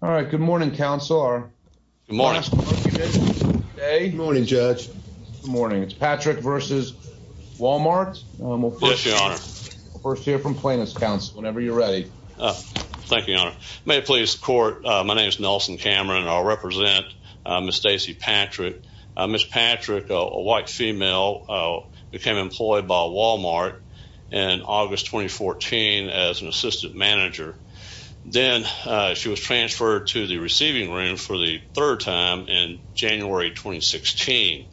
All right. Good morning, Councilor. Good morning. Good morning, Judge. Good morning. It's Patrick v. Walmart. Yes, Your Honor. We'll first hear from Plaintiff's Counsel whenever you're ready. Thank you, Your Honor. May it please the Court, my name is Nelson Cameron and I'll represent Ms. Stacey Patrick. Ms. Patrick, a white female, became employed by Walmart in August 2014 as an to the receiving room for the third time in January 2016,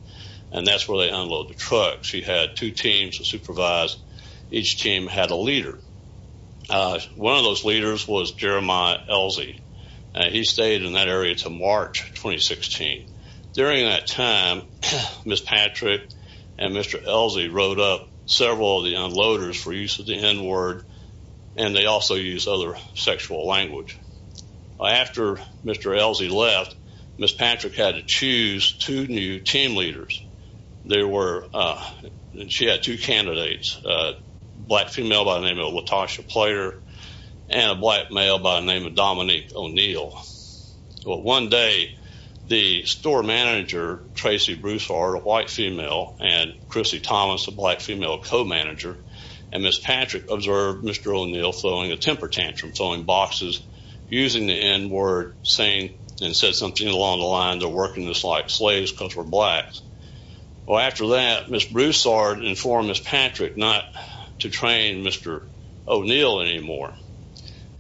and that's where they unloaded the trucks. She had two teams to supervise. Each team had a leader. One of those leaders was Jeremiah Elsie. He stayed in that area until March 2016. During that time, Ms. Patrick and Mr. Elsie wrote up several of the unloaders for use of the N-word, and they also used other sexual language. After Mr. Elsie left, Ms. Patrick had to choose two new team leaders. She had two candidates, a black female by the name of Latasha Plater and a black male by the name of Dominique O'Neal. Well, one day, the store manager, Tracy Broussard, a white female, and Chrissy Thomas, a black female, co-manager, and Ms. Patrick observed Mr. O'Neal throwing a temper tantrum, throwing boxes, using the N-word, saying and said something along the lines of, working just like slaves because we're blacks. Well, after that, Ms. Broussard informed Ms. Patrick not to train Mr. O'Neal anymore,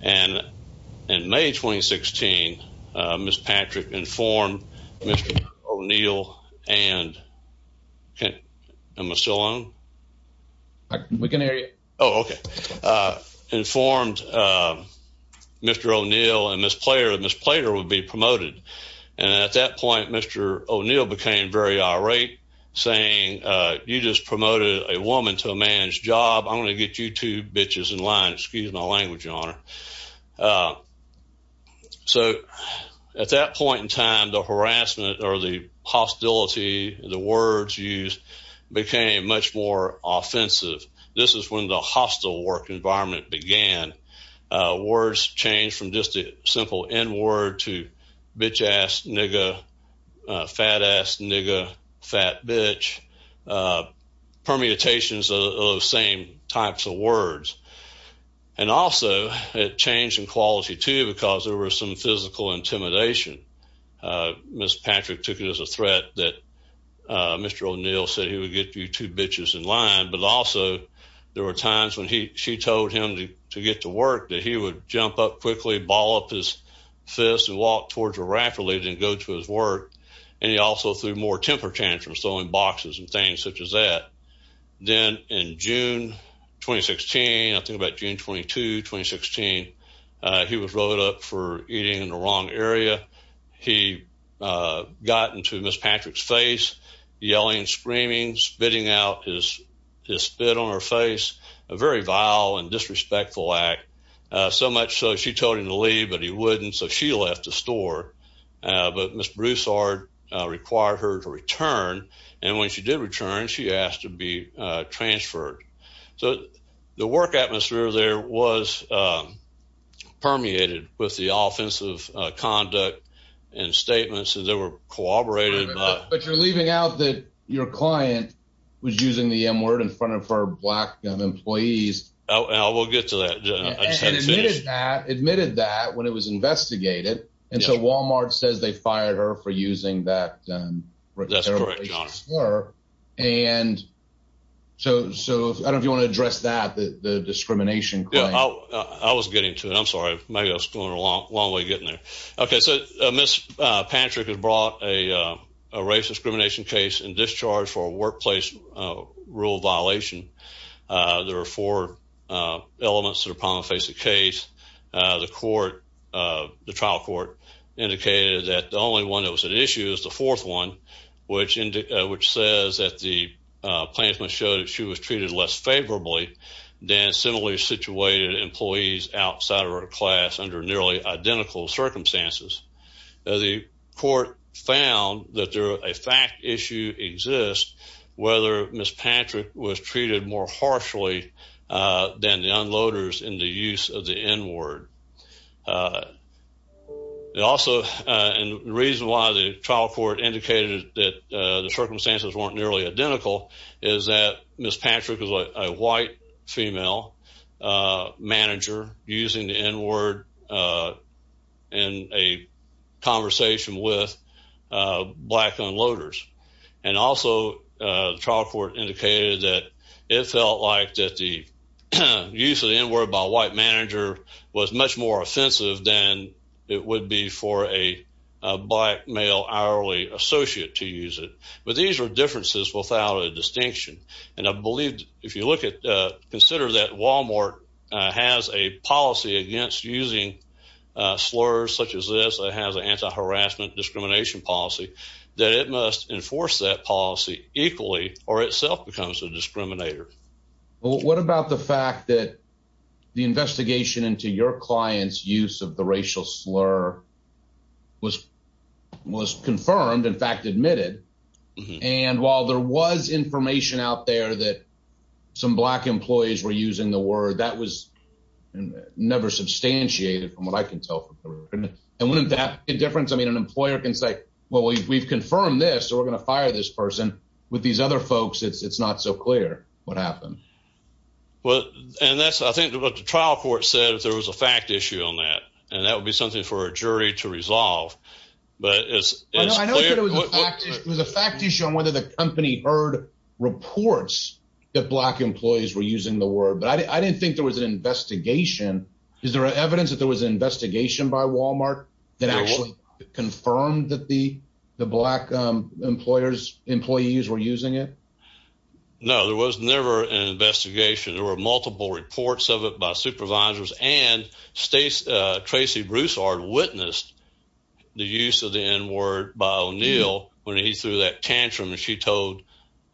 and in May 2016, Ms. Patrick informed Mr. O'Neal and Ms. Plater would be promoted, and at that point, Mr. O'Neal became very irate, saying you just promoted a woman to a man's job. I'm going to get you two bitches in line. Excuse my language, words used became much more offensive. This is when the hostile work environment began. Words changed from just the simple N-word to bitch-ass, nigga, fat-ass, nigga, fat bitch, permutations of those same types of words, and also, it changed in quality, too, because there was some physical intimidation. Ms. Patrick took it as a threat that Mr. O'Neal said he would get you two bitches in line, but also, there were times when she told him to get to work that he would jump up quickly, ball up his fist, and walk towards her rapidly, then go to his work, and he also threw more temper tantrums, throwing boxes and things such as that. Then in June 2016, I think about June 22, 2016, he was rolled up for eating in the wrong area. He got into Ms. Patrick's face, yelling, screaming, spitting out his spit on her face, a very vile and disrespectful act, so much so she told him to leave, but he wouldn't, so she left the store, but Ms. Broussard required her to return, and when she did return, she asked to be transferred, so the work atmosphere there was permeated with the offensive conduct and statements that they were corroborated by. But you're leaving out that your client was using the M word in front of her black employees. Oh, we'll get to that. Admitted that when it was investigated, and so Walmart says they fired her for using that word, and so I don't know if you want to address that, the discrimination. Yeah, I was getting to it. I'm sorry. Maybe I was going a long way getting there. Okay, so Ms. Patrick was brought a racist discrimination case and discharged for a workplace rule violation. There are four elements that are upon the face of the case. The court, the trial court, indicated that the only one that was an issue is the fourth one, which says that the placement showed that she was treated less favorably than similarly situated employees outside of her class under nearly identical circumstances. The court found that a fact issue exists whether Ms. Patrick was treated more harshly than the unloaders in the use of the N word. It also reason why the trial court indicated that the circumstances weren't nearly identical is that Ms. Patrick was a white female manager using the N word in a conversation with black unloaders, and also the trial court indicated that it felt like that the use of the N word by a white manager was much more offensive than it would be for a black male hourly associate to use it. But these are differences without a distinction, and I believe if you look at, consider that Walmart has a policy against using slurs such as this, it has an anti-harassment discrimination policy, that it must enforce that policy equally or itself becomes a discriminator. What about the fact that the investigation into your client's use of the racial slur was confirmed, in fact admitted, and while there was information out there that some black employees were using the word, that was never substantiated from what I can tell. And wouldn't that make a difference? I mean, an employer can say, well, we've confirmed this, so we're going to fire this person. With these other folks, it's not so clear what happened. Well, and that's I think what the trial court said, if there was a fact issue on that, and that would be something for a jury to resolve. But it was a fact issue on whether the company heard reports that black employees were using the word, but I didn't think there was an investigation. Is there evidence that there was an investigation by Walmart that actually confirmed that the black employees were using it? No, there was never an investigation. There were multiple reports of it by supervisors and Tracy Broussard witnessed the use of the N-word by O'Neill when he threw that tantrum and she told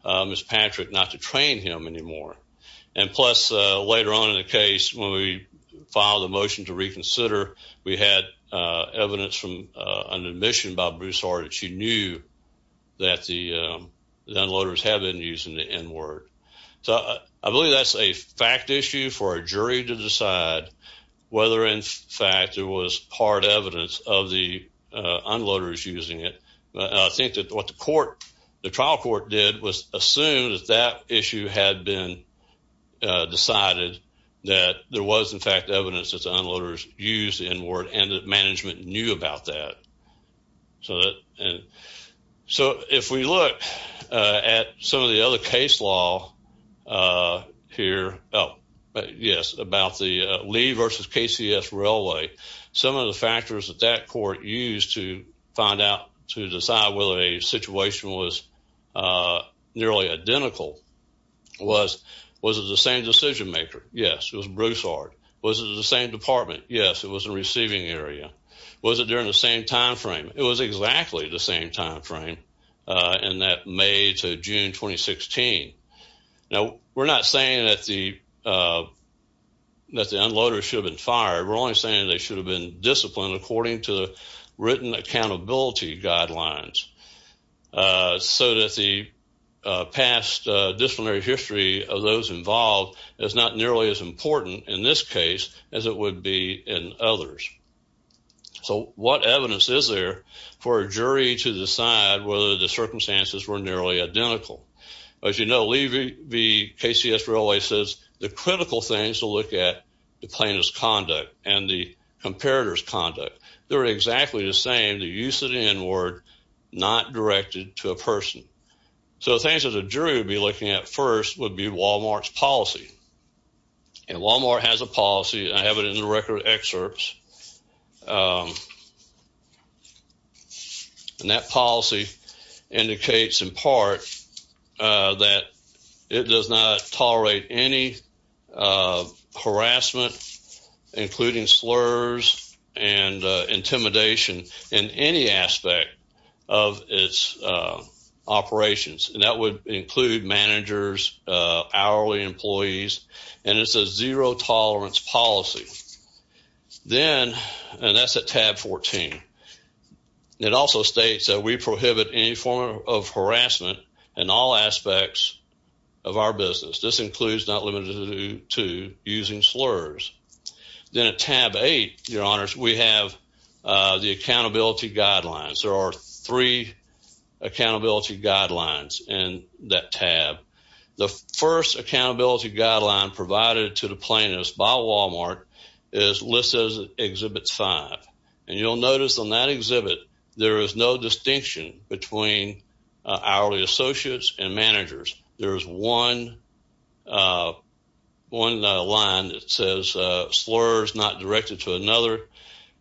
Ms. Patrick not to train him anymore. And plus, later on in the case, when we filed a motion to reconsider, we had evidence from an admission by Broussard that she knew that the unloaders have been using the N-word. So I believe that's a fact issue for a jury to decide whether in fact there was hard evidence of the unloaders using it. I think that what the court, the trial court did was assume that that issue had been decided that there was in fact evidence that the unloaders used the N-word and that management knew about that. So if we look at some of the other case law here, yes, about the Lee versus KCS railway, some of the factors that that court used to find out to decide whether a situation was nearly identical was, was it the same decision maker? Yes, it was Broussard. Was it the same department? Yes, it was a receiving area. Was it during the same time frame? It was exactly the same time frame in that May to June 2016. Now, we're not saying that the unloaders should have been fired. We're only saying they should have been disciplined according to the written accountability guidelines so that the past disciplinary history of those involved is not nearly as important in this case as it would be in others. So what evidence is there for a jury to decide whether the circumstances were nearly identical? As you know, Lee versus KCS railway says the critical things to look at the plaintiff's conduct and the comparator's conduct. They're exactly the same, the use of the N-word not directed to a person. So things that a jury would be looking at first would be Walmart has a policy. I have it in the record excerpts. And that policy indicates in part that it does not tolerate any harassment, including slurs and intimidation in any aspect of its operations. And that would include managers, hourly employees, and it's a zero tolerance policy. Then, and that's a tab 14. It also states that we prohibit any form of harassment in all aspects of our business. This includes not limited to using slurs. Then at tab eight, your honors, we have the accountability guidelines. There are three accountability guidelines in that tab. The first accountability guideline provided to the plaintiffs by Walmart is listed as exhibit five. And you'll notice on that exhibit, there is no distinction between hourly associates and managers. There's one line that says slurs not directed to another,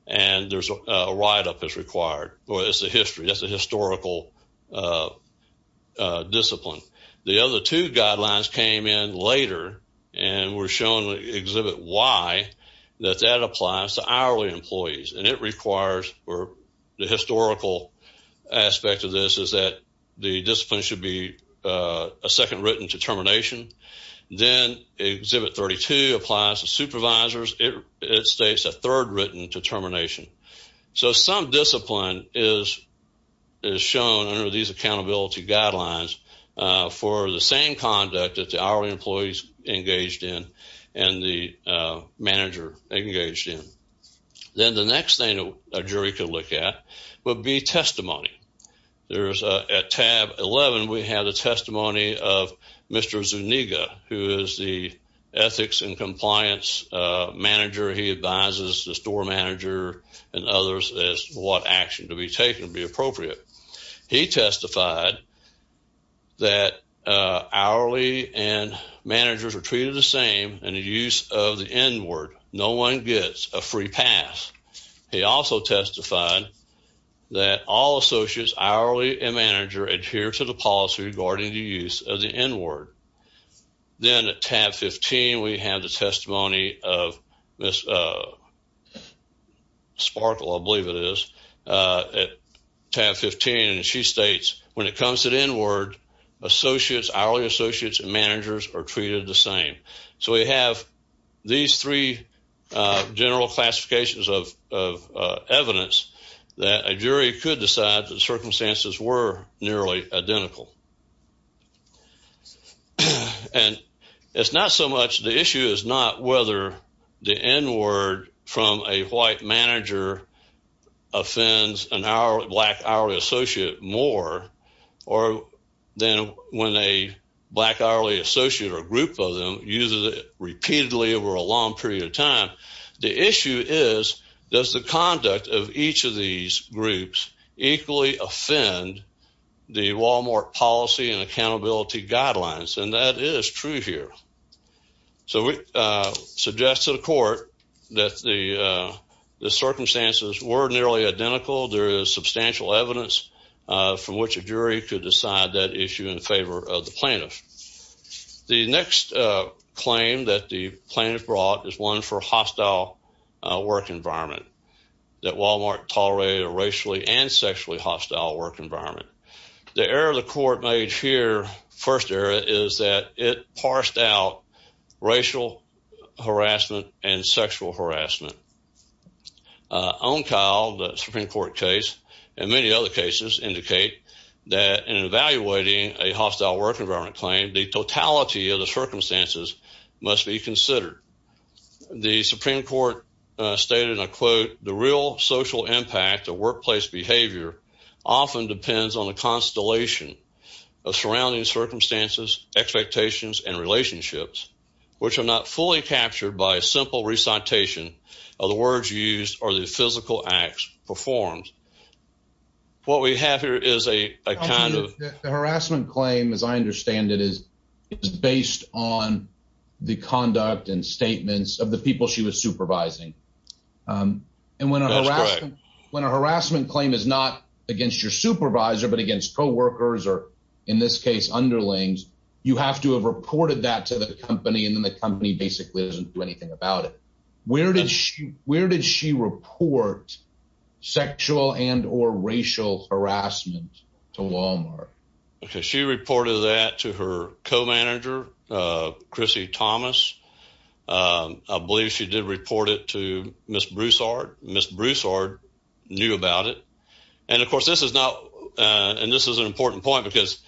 and there's a write-up that's required. That's a historical discipline. The other two guidelines came in later and were shown in exhibit Y that that applies to hourly employees. And it requires the historical aspect of this is that the discipline should be a second written determination. Then exhibit 32 applies to is shown under these accountability guidelines for the same conduct that the hourly employees engaged in and the manager engaged in. Then the next thing a jury could look at would be testimony. There's at tab 11, we have the testimony of Mr. Zuniga, who is the ethics and compliance manager. He advises the store manager and others as to what action to be taken would be appropriate. He testified that hourly and managers are treated the same in the use of the n-word. No one gets a free pass. He also testified that all associates hourly and manager adhere to the policy regarding the use of the n-word. Then at tab 15, we have the testimony of Ms. Sparkle, I believe it is, at tab 15, and she states when it comes to the n-word, associates, hourly associates and managers are treated the same. So we have these three general classifications of evidence that a jury could decide that circumstances were nearly identical. And it's not so much the issue is not whether the n-word from a white manager offends a black hourly associate more than when a black hourly associate or group of them uses it repeatedly over a long period of time. The issue is does the equally offend the Walmart policy and accountability guidelines, and that is true here. So we suggest to the court that the circumstances were nearly identical. There is substantial evidence from which a jury could decide that issue in favor of the plaintiff. The next claim that the plaintiff brought is one for hostile work environment that Walmart tolerated racially and sexually hostile work environment. The error the court made here, first error, is that it parsed out racial harassment and sexual harassment. On Kyle, the Supreme Court case, and many other cases indicate that in evaluating a hostile work environment claim, the totality of the circumstances must be considered. The Supreme Court stated, and I quote, the real social impact of workplace behavior often depends on the constellation of surrounding circumstances, expectations, and relationships, which are not fully captured by a simple recitation of the words used or the physical acts performed. What we have here is a kind of harassment claim, as I understand it, is based on the conduct and statements of the people she was supervising. And when a harassment claim is not against your supervisor, but against co-workers, or in this case, underlings, you have to have reported that to the company, and then the company basically doesn't do anything about it. Where did she report sexual and or racial harassment? I believe she did report it to Ms. Broussard. Ms. Broussard knew about it. And of course, this is not, and this is an important point, because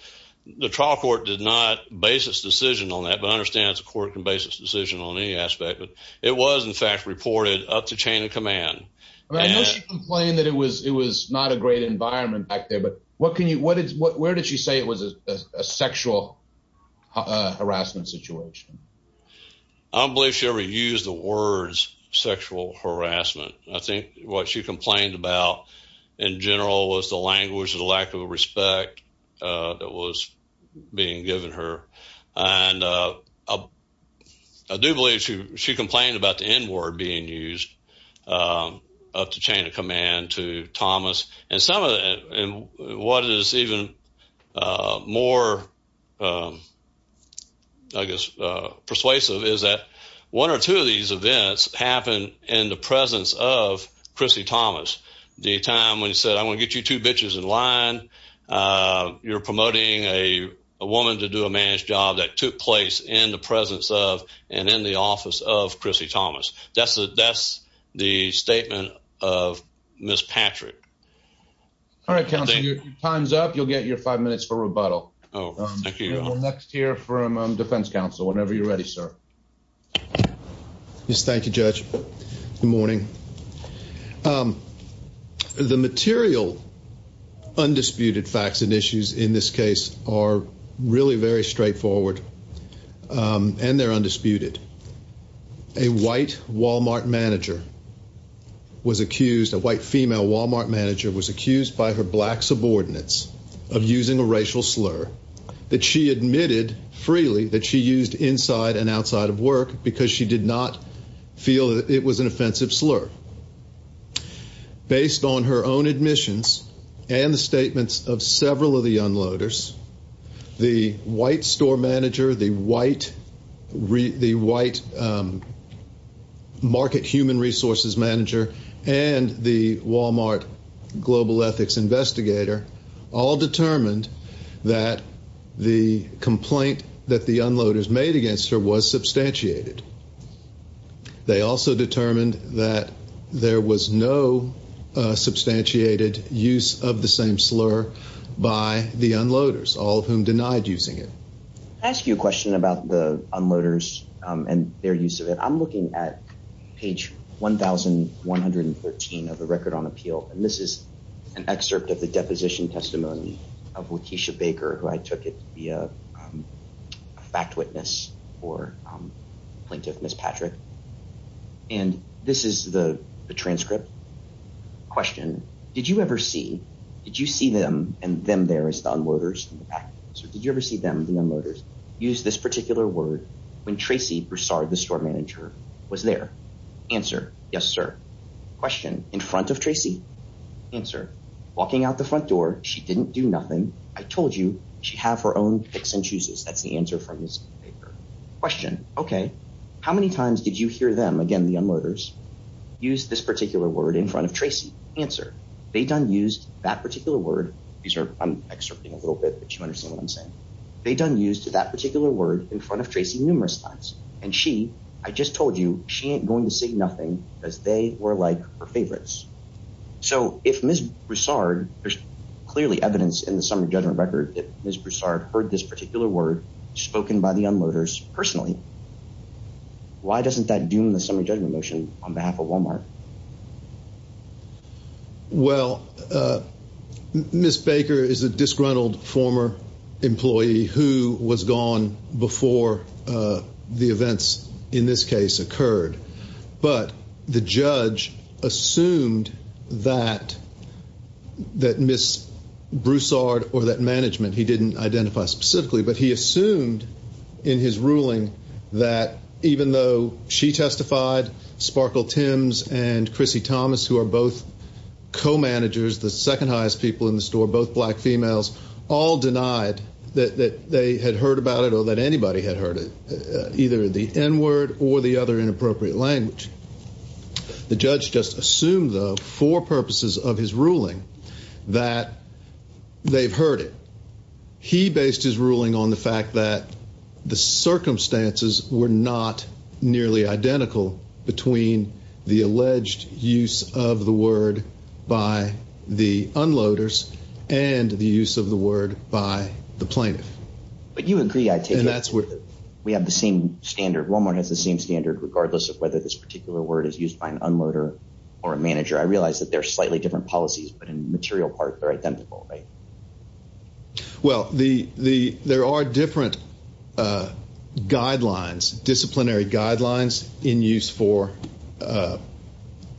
the trial court did not base its decision on that, but I understand the court can base its decision on any aspect, but it was in fact reported up to chain of command. I know she complained that it was not a great environment back there, but where did she say it was a sexual harassment situation? I don't believe she ever used the words sexual harassment. I think what she complained about in general was the language or the lack of respect that was being given her. And I do believe she complained about the N-word being used up to chain of command to Thomas. And what is even more, I guess, persuasive is that one or two of these events happened in the presence of Chrissy Thomas. The time when he said, I'm going to get you two bitches in line, you're promoting a woman to do a man's job that took place in the presence of and in the office of Chrissy Thomas. That's the statement of Ms. Patrick. All right, counsel, your time's up. You'll get your five minutes for rebuttal. Oh, thank you. We'll next hear from defense counsel whenever you're ready, sir. Yes, thank you, Judge. Good morning. The material undisputed facts and issues in this case are really very straightforward and they're undisputed. A white Walmart manager was accused, a white female Walmart manager was accused by her black subordinates of using a racial slur that she admitted freely that she used inside and outside of work because she did not feel that it was an offensive slur. Based on her own admissions and the statements of several of the unloaders, the white store manager, the white market human resources manager and the Walmart global ethics investigator all determined that the complaint that the unloaders made against her was substantiated. They also determined that there was no substantiated use of the same slur by the unloaders, all of whom denied using it. Can I ask you a question about the unloaders and their use of it? I'm looking at page 1113 of the record on appeal and this is an excerpt of the deposition testimony of Lakeisha Baker, who I took it to be a fact witness or plaintiff, Ms. Patrick, and this is the transcript Question, did you ever see, did you see them and them there as the unloaders in the back? So did you ever see them, the unloaders, use this particular word when Tracy Broussard, the store manager, was there? Answer, yes sir. Question, in front of Tracy? Answer, walking out the front door, she didn't do nothing. I told you she'd have her own picks and chooses. That's the answer from this paper. Question, okay, how many times did you hear them, again, the unloaders, use this particular word in front of Tracy? Answer, they done used that particular word. These are, I'm excerpting a little bit, but you understand what I'm saying. They done used that particular word in front of Tracy numerous times and she, I just told you, she ain't going to say nothing because they were like her favorites. So if Ms. Broussard, there's clearly evidence in the summary judgment record that Ms. Broussard heard this particular word spoken by the on behalf of Walmart. Well, Ms. Baker is a disgruntled former employee who was gone before the events in this case occurred. But the judge assumed that Ms. Broussard or that management, he didn't identify specifically, but he assumed in his ruling that even though she testified, Sparkle Tims and Chrissy Thomas, who are both co-managers, the second highest people in the store, both black females, all denied that they had heard about it or that anybody had heard it, either the N word or the other inappropriate language. The judge just assumed though for purposes of his ruling that they've heard it. He based his ruling on the fact that the circumstances were not nearly identical between the alleged use of the word by the unloaders and the use of the word by the plaintiff. But you agree, I take it, we have the same standard. Walmart has the same standard regardless of whether this particular word is used by an unloader or a manager. I realize that they're slightly different policies, but in material part, they're identical, right? Well, there are different disciplinary guidelines in use for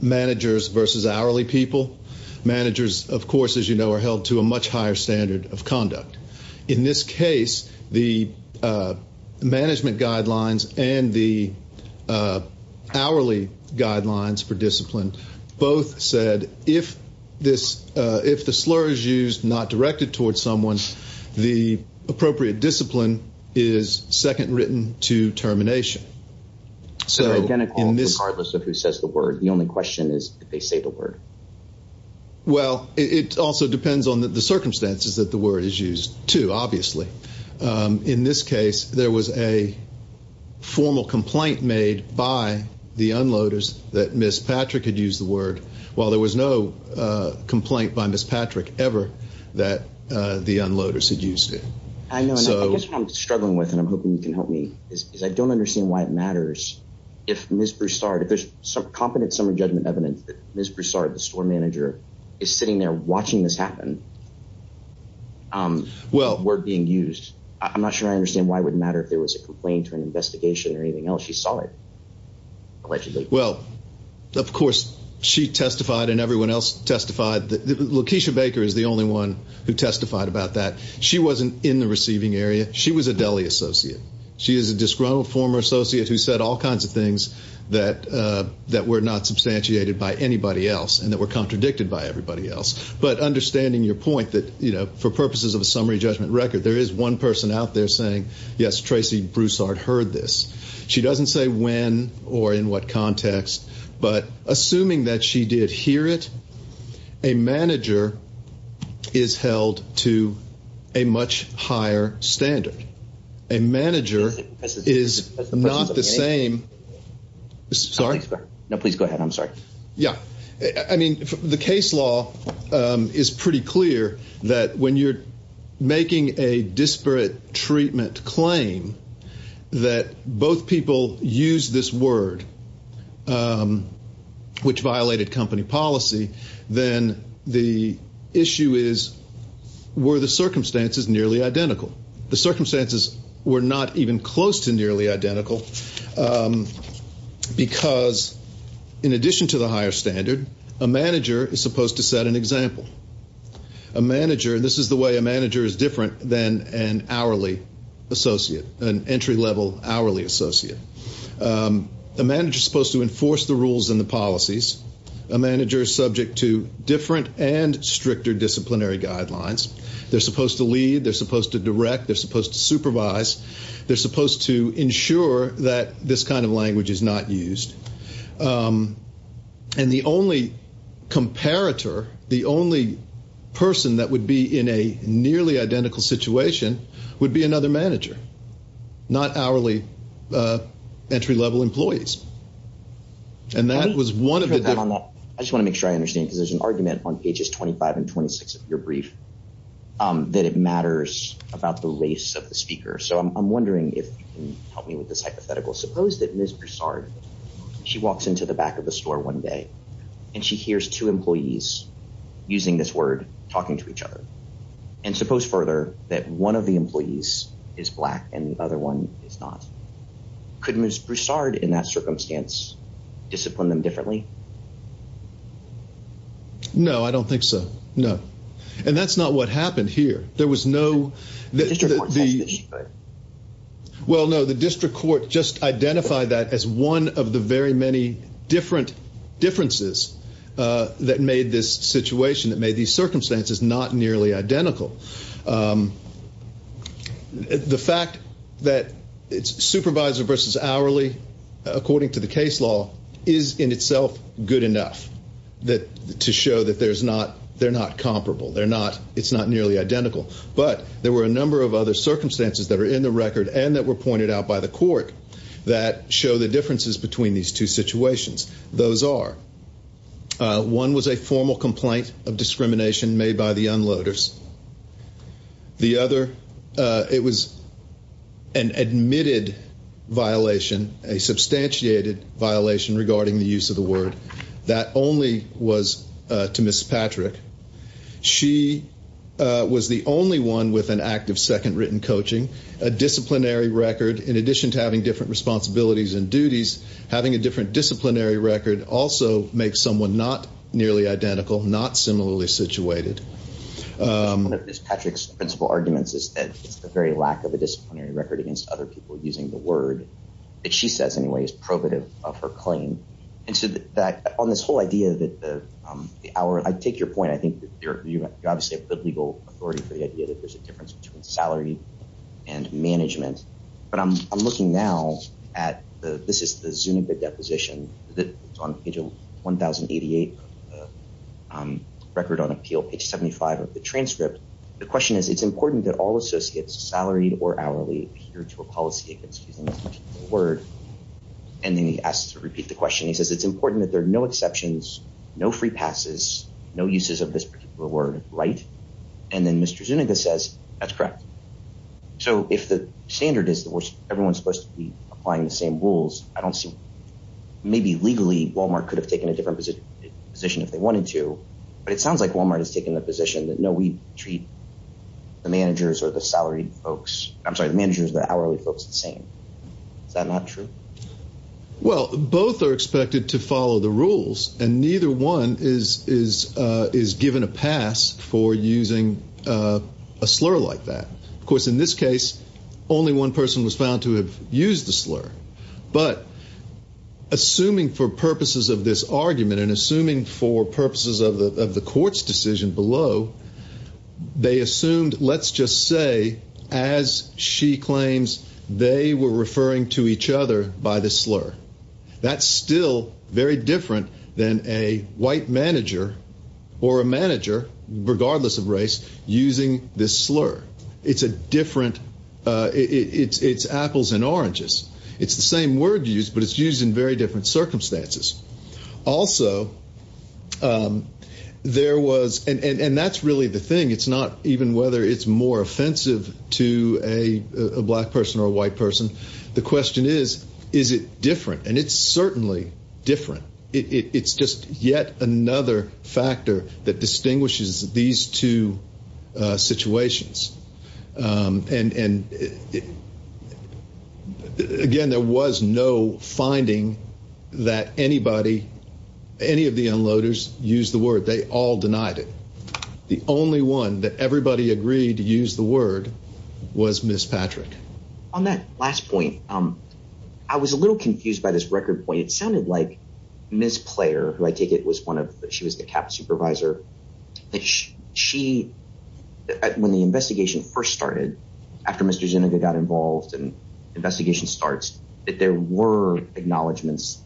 managers versus hourly people. Managers, of course, as you know, are held to a much higher standard of conduct. In this case, the management guidelines and the hourly guidelines for slurs used not directed towards someone, the appropriate discipline is second written to termination. So, regardless of who says the word, the only question is if they say the word. Well, it also depends on the circumstances that the word is used to, obviously. In this case, there was a formal complaint made by the unloaders that Ms. Patrick had used the word while there was no complaint by Ms. Patrick ever that the unloaders had used it. I know, and I guess what I'm struggling with, and I'm hoping you can help me, is I don't understand why it matters if Ms. Broussard, if there's some competent summary judgment evidence that Ms. Broussard, the store manager, is sitting there watching this happen, the word being used. I'm not sure I understand why it wouldn't matter if there was a complaint or an investigation or anything else. She saw it, allegedly. Well, of course, she testified and everyone else testified. LaKeisha Baker is the only one who testified about that. She wasn't in the receiving area. She was a deli associate. She is a disgruntled former associate who said all kinds of things that were not substantiated by anybody else and that were contradicted by everybody else. But understanding your point, that for purposes of a summary judgment record, there is one person out there saying, yes, Tracey Broussard heard this. She doesn't say when or in what context, but assuming that she did hear it, a manager is held to a much higher standard. A manager is not the same. Sorry? No, please go ahead. I'm sorry. Yeah. I mean, the case law is pretty clear that when you're making a disparate treatment claim that both people use this word, which violated company policy, then the issue is, were the circumstances nearly identical? The circumstances were not even close to nearly the higher standard. A manager is supposed to set an example. A manager, this is the way a manager is different than an hourly associate, an entry-level hourly associate. A manager is supposed to enforce the rules and the policies. A manager is subject to different and stricter disciplinary guidelines. They're supposed to lead. They're supposed to direct. They're supposed to And the only comparator, the only person that would be in a nearly identical situation would be another manager, not hourly entry-level employees. And that was one of the- I just want to make sure I understand, because there's an argument on pages 25 and 26 of your brief that it matters about the race of the speaker. So I'm wondering if you can help me with this hypothetical. Suppose that Ms. Broussard, she walks into the back of the and she hears two employees using this word, talking to each other. And suppose further that one of the employees is black and the other one is not. Could Ms. Broussard, in that circumstance, discipline them differently? No, I don't think so. No. And that's not what happened here. There was no- Well, no, the district court just identified that as one of the very many different differences that made this situation, that made these circumstances not nearly identical. The fact that it's supervisor versus hourly, according to the case law, is in itself good enough to show that they're not comparable. It's not nearly identical. But there were a number of circumstances that are in the record and that were pointed out by the court that show the differences between these two situations. Those are, one was a formal complaint of discrimination made by the unloaders. The other, it was an admitted violation, a substantiated violation regarding the use of the word. That only was to Ms. Patrick. She was the only one with an active second written coaching. A disciplinary record, in addition to having different responsibilities and duties, having a different disciplinary record also makes someone not nearly identical, not similarly situated. One of Ms. Patrick's principle arguments is that it's the very lack of a disciplinary record against other people using the word, that she says anyway, is probative of her claim. And so on this whole idea that the hour, I take your point, I think that you're a good legal authority for the idea that there's a difference between salary and management. But I'm looking now at the, this is the Zuniga deposition that's on page 1,088, record on appeal, page 75 of the transcript. The question is, it's important that all associates salaried or hourly adhere to a policy against using the word. And then he asks to repeat the question. He says, it's important that there are no exceptions, no free passes, no uses of this word, right? And then Mr. Zuniga says, that's correct. So if the standard is that everyone's supposed to be applying the same rules, I don't see, maybe legally Walmart could have taken a different position if they wanted to. But it sounds like Walmart has taken the position that, no, we treat the managers or the salaried folks, I'm sorry, the managers, the hourly folks the same. Is that not true? Well, both are expected to follow the rules and neither one is given a pass for using a slur like that. Of course, in this case, only one person was found to have used the slur, but assuming for purposes of this argument and assuming for purposes of the, of the court's decision below, they assumed, let's just say, as she claims, they were referring to regardless of race using this slur. It's a different, it's apples and oranges. It's the same word used, but it's used in very different circumstances. Also, there was, and that's really the thing. It's not even whether it's more offensive to a black person or a white person. The question is, is it different? And it's certainly different. It's yet another factor that distinguishes these two situations. And, again, there was no finding that anybody, any of the unloaders used the word. They all denied it. The only one that everybody agreed to use the word was Ms. Patrick. On that last point, I was a little confused by this record point. It sounded like Ms. Player, who I take it was one of, she was the CAP supervisor, that she, when the investigation first started, after Mr. Zuniga got involved and investigation starts, that there were acknowledgements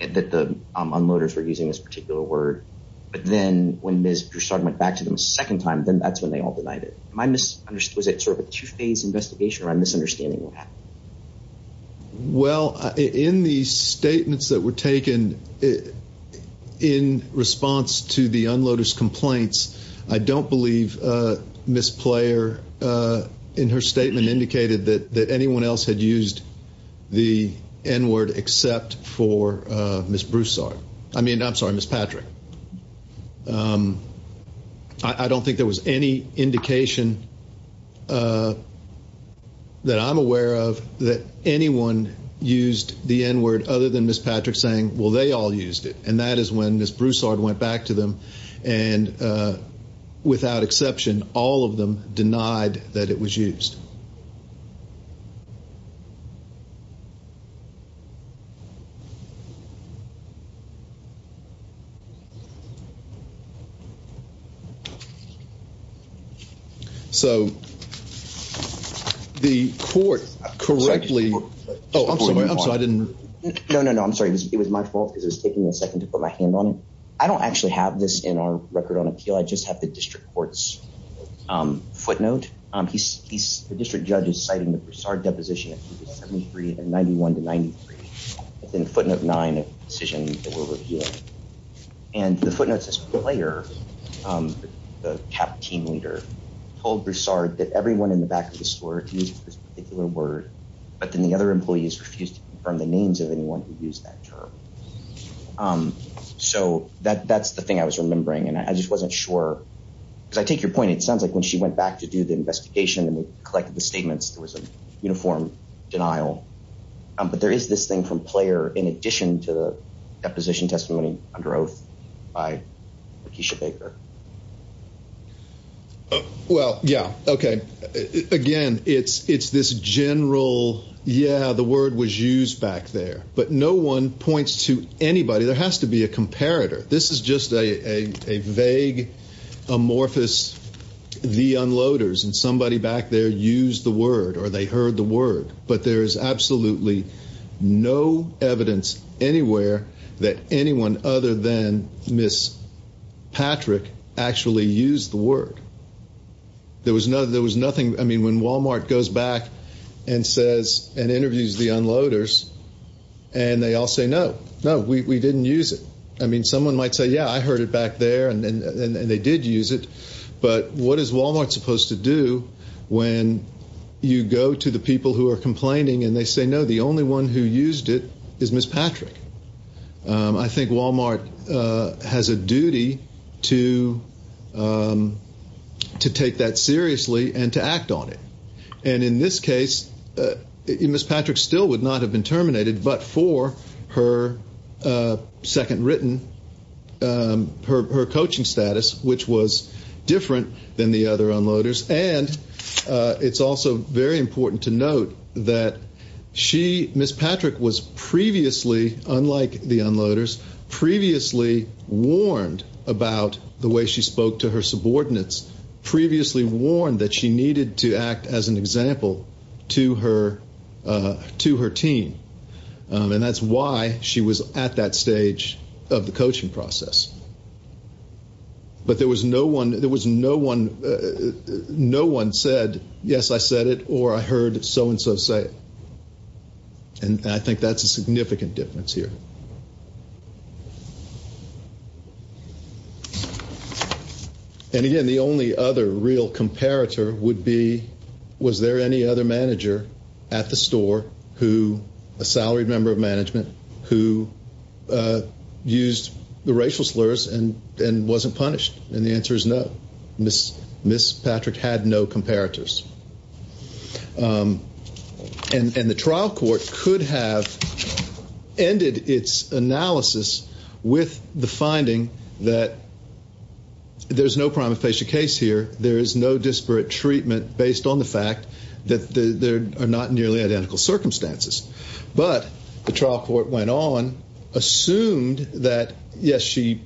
that the unloaders were using this particular word. But then when Ms. Broussard went back to them a second time, then that's when they all denied it. Was it sort of a two-phase investigation or a misunderstanding? Well, in the statements that were taken in response to the unloaders' complaints, I don't believe Ms. Player, in her statement, indicated that anyone else had used the N-word except for Ms. Broussard. I mean, I'm sorry, Ms. Patrick. I don't think there was any indication that I'm aware of that anyone used the N-word other than Ms. Patrick saying, well, they all used it. And that is when Ms. Broussard said that. So the court correctly... Oh, I'm sorry, I'm sorry, I didn't... No, no, no. I'm sorry. It was my fault because it was taking me a second to put my hand on it. I don't actually have this in our record on appeal. I just have the district court's footnote. The district judge is citing the Broussard and the footnotes as Player, the CAP team leader, told Broussard that everyone in the back of the store used this particular word, but then the other employees refused to confirm the names of anyone who used that term. So that's the thing I was remembering. And I just wasn't sure, because I take your point. It sounds like when she went back to do the investigation and collected the statements, there was a uniform denial. But there is this thing from Player in addition to the deposition testimony under oath by Lakeisha Baker. Well, yeah. Okay. Again, it's this general, yeah, the word was used back there, but no one points to anybody. There has to be a comparator. This is just a vague, amorphous, the unloaders and somebody back there used the word or they heard the word. But there is absolutely no evidence anywhere that anyone other than Ms. Patrick actually used the word. There was nothing. I mean, when Walmart goes back and says, and interviews the unloaders, and they all say, no, no, we didn't use it. I mean, someone might say, yeah, I heard it back there and they did use it. But what is Walmart supposed to do when you go to the people who are complaining and they say, no, the only one who used it is Ms. Patrick? I think Walmart has a duty to take that seriously and to act on it. And in this case, Ms. Patrick still would not have been terminated, but for her second written, her coaching status, which was different than the other unloaders. And it's also very important to note that she, Ms. Patrick was previously, unlike the unloaders, previously warned about the way she spoke to her subordinates, previously warned that she needed to act as an example to her team. And that's why she was at that stage of the coaching process. But there was no one said, yes, I said it, or I heard so-and-so say it. And I think that's a significant difference here. And again, the only other real comparator would be, was there any other manager at the store who, a salaried member of management, who used the racial slurs and wasn't punished? And the answer is no. Ms. Patrick had no comparators. And the trial court could have ended its analysis with the finding that there's no prima facie case here. There is no disparate treatment based on the fact that there are not nearly identical circumstances. But the trial court went on, assumed that, yes, she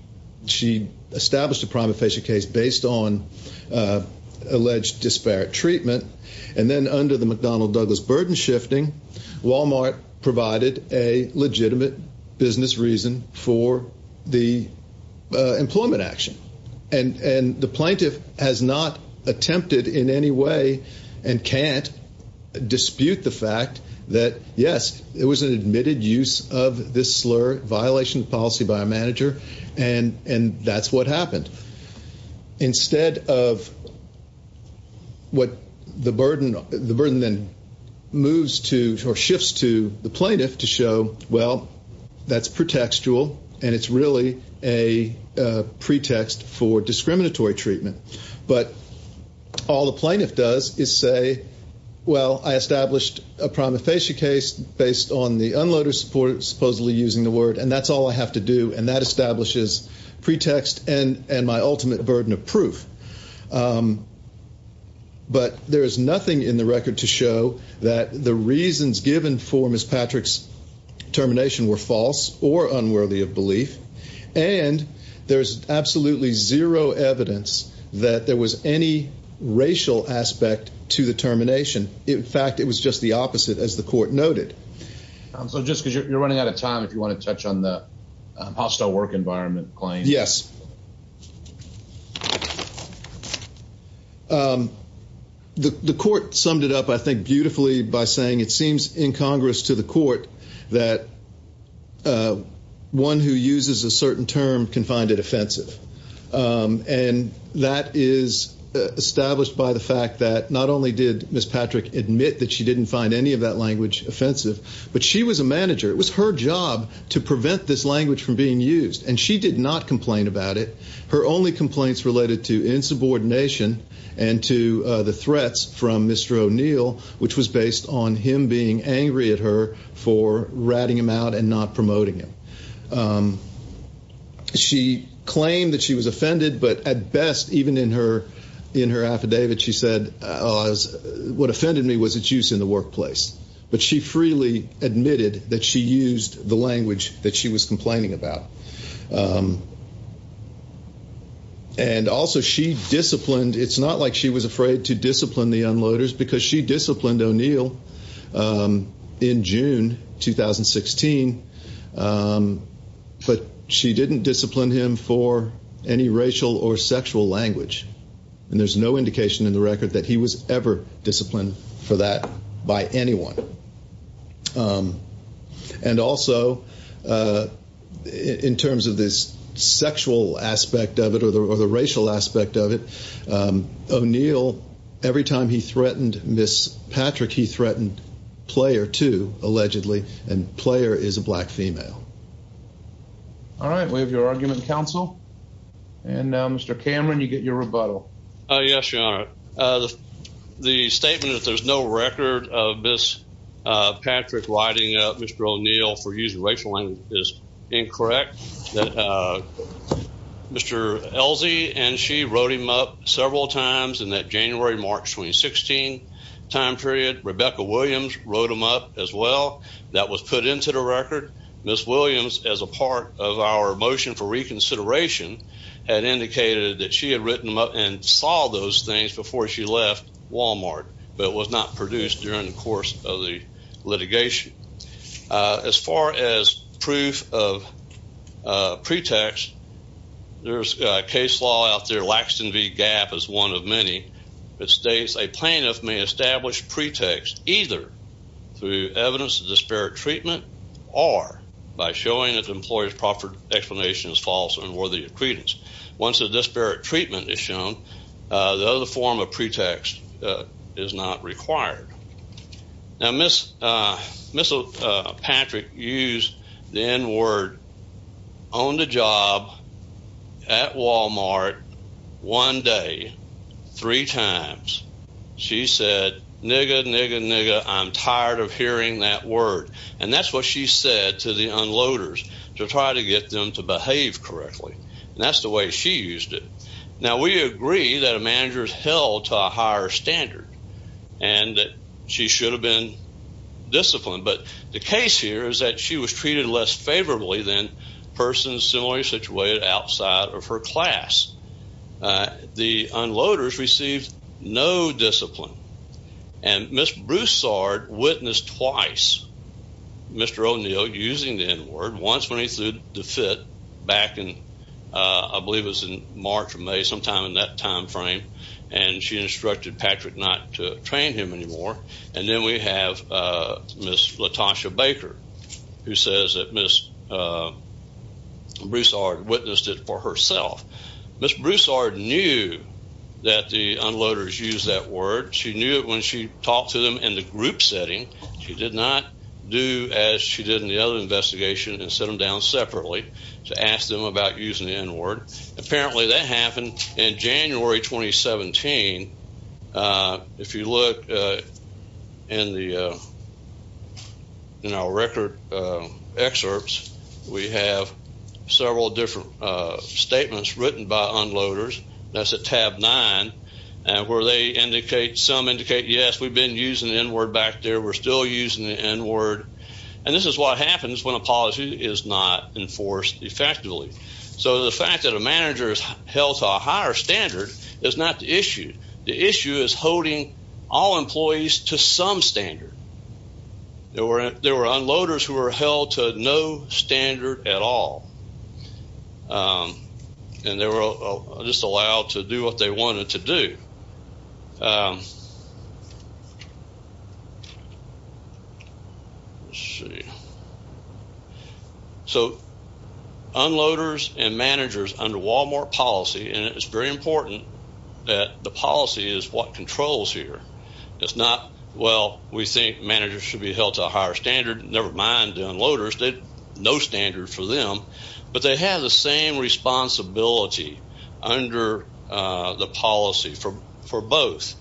established a prima facie case based on alleged disparate treatment. And then under the McDonnell-Douglas burden shifting, Walmart provided a legitimate business reason for the employment action. And the plaintiff has not attempted in any way and can't dispute the fact that, yes, it was an admitted use of this slur, violation of policy by a manager, and that's what happened. Instead of what the burden then moves to or shifts to the plaintiff to show, well, that's pretextual, and it's really a pretext for discriminatory treatment. But all the plaintiff does is say, well, I established a prima facie case based on the unloader supposedly using the word, and that's all I have to do. And that establishes pretext and my ultimate burden of proof. But there is nothing in the record to show that the reasons given for Ms. Patrick's termination were false or unworthy of belief. And there's absolutely zero evidence that there was any racial aspect to the termination. In fact, it was just the opposite, as the court noted. So just because you're running out of time, if you want to touch on the hostile work environment claim. Yes. The court summed it up, I think, beautifully by saying it seems in Congress to the court that a one who uses a certain term can find it offensive. And that is established by the fact that not only did Ms. Patrick admit that she didn't find any of that language offensive, but she was a manager. It was her job to prevent this language from being used. And she did not complain about it. Her only complaints related to insubordination and to the threats from Mr. O'Neill, which was based on him being angry at her for ratting him out and not promoting him. She claimed that she was offended, but at best, even in her affidavit, she said, what offended me was its use in the workplace. But she freely admitted that she used the language that she was complaining about. And also she disciplined. It's not like she was afraid to discipline the unloaders, because she disciplined O'Neill in June 2016. But she didn't discipline him for any racial or sexual language. And there's no indication in the record that he was ever disciplined for that by anyone. And also in terms of this sexual aspect of it or the racial aspect of it, O'Neill, every time he threatened Ms. Patrick, he threatened Player, too, allegedly. And Player is a black female. All right. We have your argument, counsel. And Mr. Cameron, you get your rebuttal. Yes, Your Honor. The statement that there's no record of Ms. Patrick writing up Mr. O'Neill for using racial language is incorrect. Mr. Elsey and she wrote him up several times in that January-March 2016 time period. Rebecca Williams wrote him up as well. That was put into the record. Ms. Williams, as a part of our motion for reconsideration, had indicated that she had written him up and saw those things before she left Walmart, but was not produced during the course of the litigation. As far as proof of pretext, there's a case law out there, Laxton v. Gap is one of many, that states a plaintiff may establish pretext either through evidence of disparate treatment or by showing that the employer's proffered explanation is false or unworthy of credence. Once a disparate treatment is shown, the other form of pretext is not required. Now, Ms. Patrick used the N-word on the job at Walmart one day, three times. She said, nigga, nigga, nigga, I'm tired of hearing that word. And that's what she said to the unloaders to try to get them to behave correctly. And that's the way she used it. Now, we agree that a manager is held to a higher standard and that she should have been disciplined. But the case here is that she was treated less favorably than persons similarly situated outside of her class. The unloaders received no discipline. And Ms. Broussard witnessed twice Mr. O'Neill using the N-word, once when he sued DeFitt back in, I believe it was in March or May, sometime in that time frame. And she instructed Patrick not to train him anymore. And then we have Ms. Latasha Baker, who says that Ms. Broussard witnessed it for herself. Ms. Broussard knew that the unloaders used that word. She knew it when she group setting. She did not do as she did in the other investigation and set them down separately to ask them about using the N-word. Apparently that happened in January 2017. If you look in our record excerpts, we have several different statements written by unloaders. That's at tab nine, where they indicate, some indicate, yes, we've been using the N-word back there. We're still using the N-word. And this is what happens when a policy is not enforced effectively. So the fact that a manager is held to a higher standard is not the issue. The issue is holding all employees to some standard. There were unloaders who were held to no standard at all. And they were just allowed to do what they wanted to do. Let's see. So unloaders and managers under Walmart policy, and it's very important that the policy is what controls here. It's not, well, we think managers should be held to a higher standard, never mind the unloaders, no standard for them. But they have the same responsibility under the policy for both.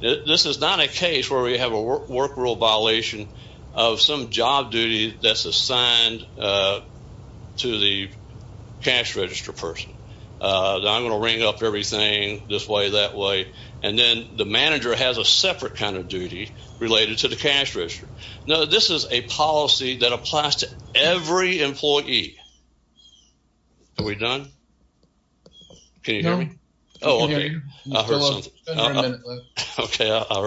This is not a case where we have a work rule violation of some job duty that's assigned to the cash register person. I'm going to ring up everything this way, that way. And then the manager has a separate kind of duty related to the cash register. No, this is a policy that applies to every employee. Are we done? Can you hear me? Okay, I heard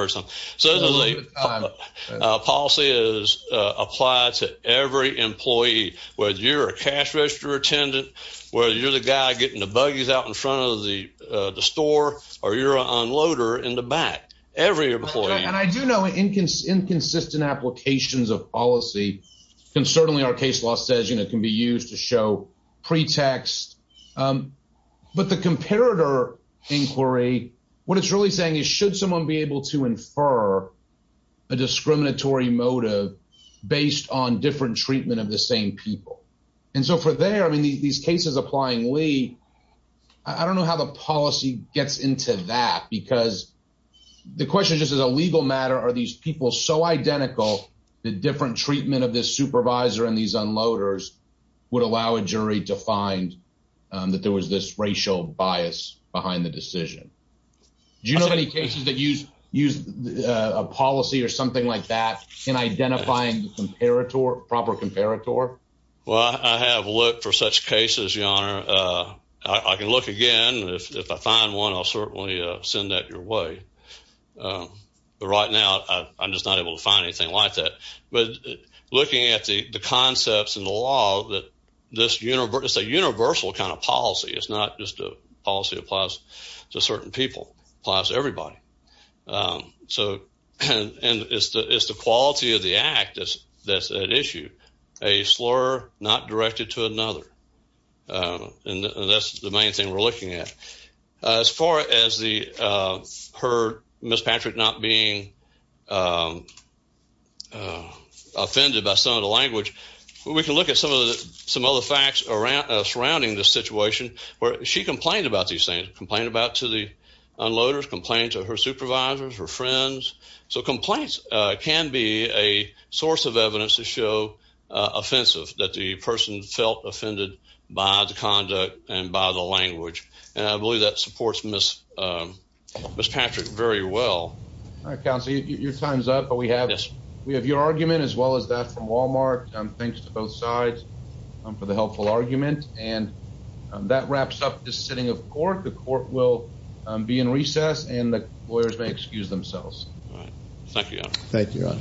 something. So the policy is applied to every employee, whether you're a cash register attendant, whether you're the guy getting the buggies out in front of the store, or you're an employee. So there's inconsistent applications of policy. And certainly our case law says, you know, can be used to show pretext. But the comparator inquiry, what it's really saying is, should someone be able to infer a discriminatory motive based on different treatment of the same people? And so for there, I mean, these cases applying Lee, I don't know how the policy gets into that, because the question just as a legal matter, are these people so identical, the different treatment of this supervisor and these unloaders would allow a jury to find that there was this racial bias behind the decision? Do you know of any cases that use a policy or something like that in identifying the comparator, proper comparator? Well, I have looked for such cases, your honor. I can look again. If I find one, I'll certainly send that your way. But right now, I'm just not able to find anything like that. But looking at the concepts in the law that this is a universal kind of policy. It's not just a policy applies to certain people, applies to everybody. And it's the quality of the act that's at issue, a slur not directed to another. And that's the main thing we're looking at. As far as the her, Ms. Patrick not being offended by some of the language, we can look at some of the some other facts around surrounding this situation where she complained about these things, complained about to the unloaders, complained to her supervisors, her friends. So complaints can be a source of evidence to show offensive that the person felt offended by the conduct and by the language. And I believe that supports Ms. Patrick very well. All right, counsel, your time's up. But we have your argument as well as that from Walmart. Thanks to both sides for the helpful argument. And that wraps up this sitting of court. The court will be in recess and the lawyers may excuse themselves. Thank you, your honor.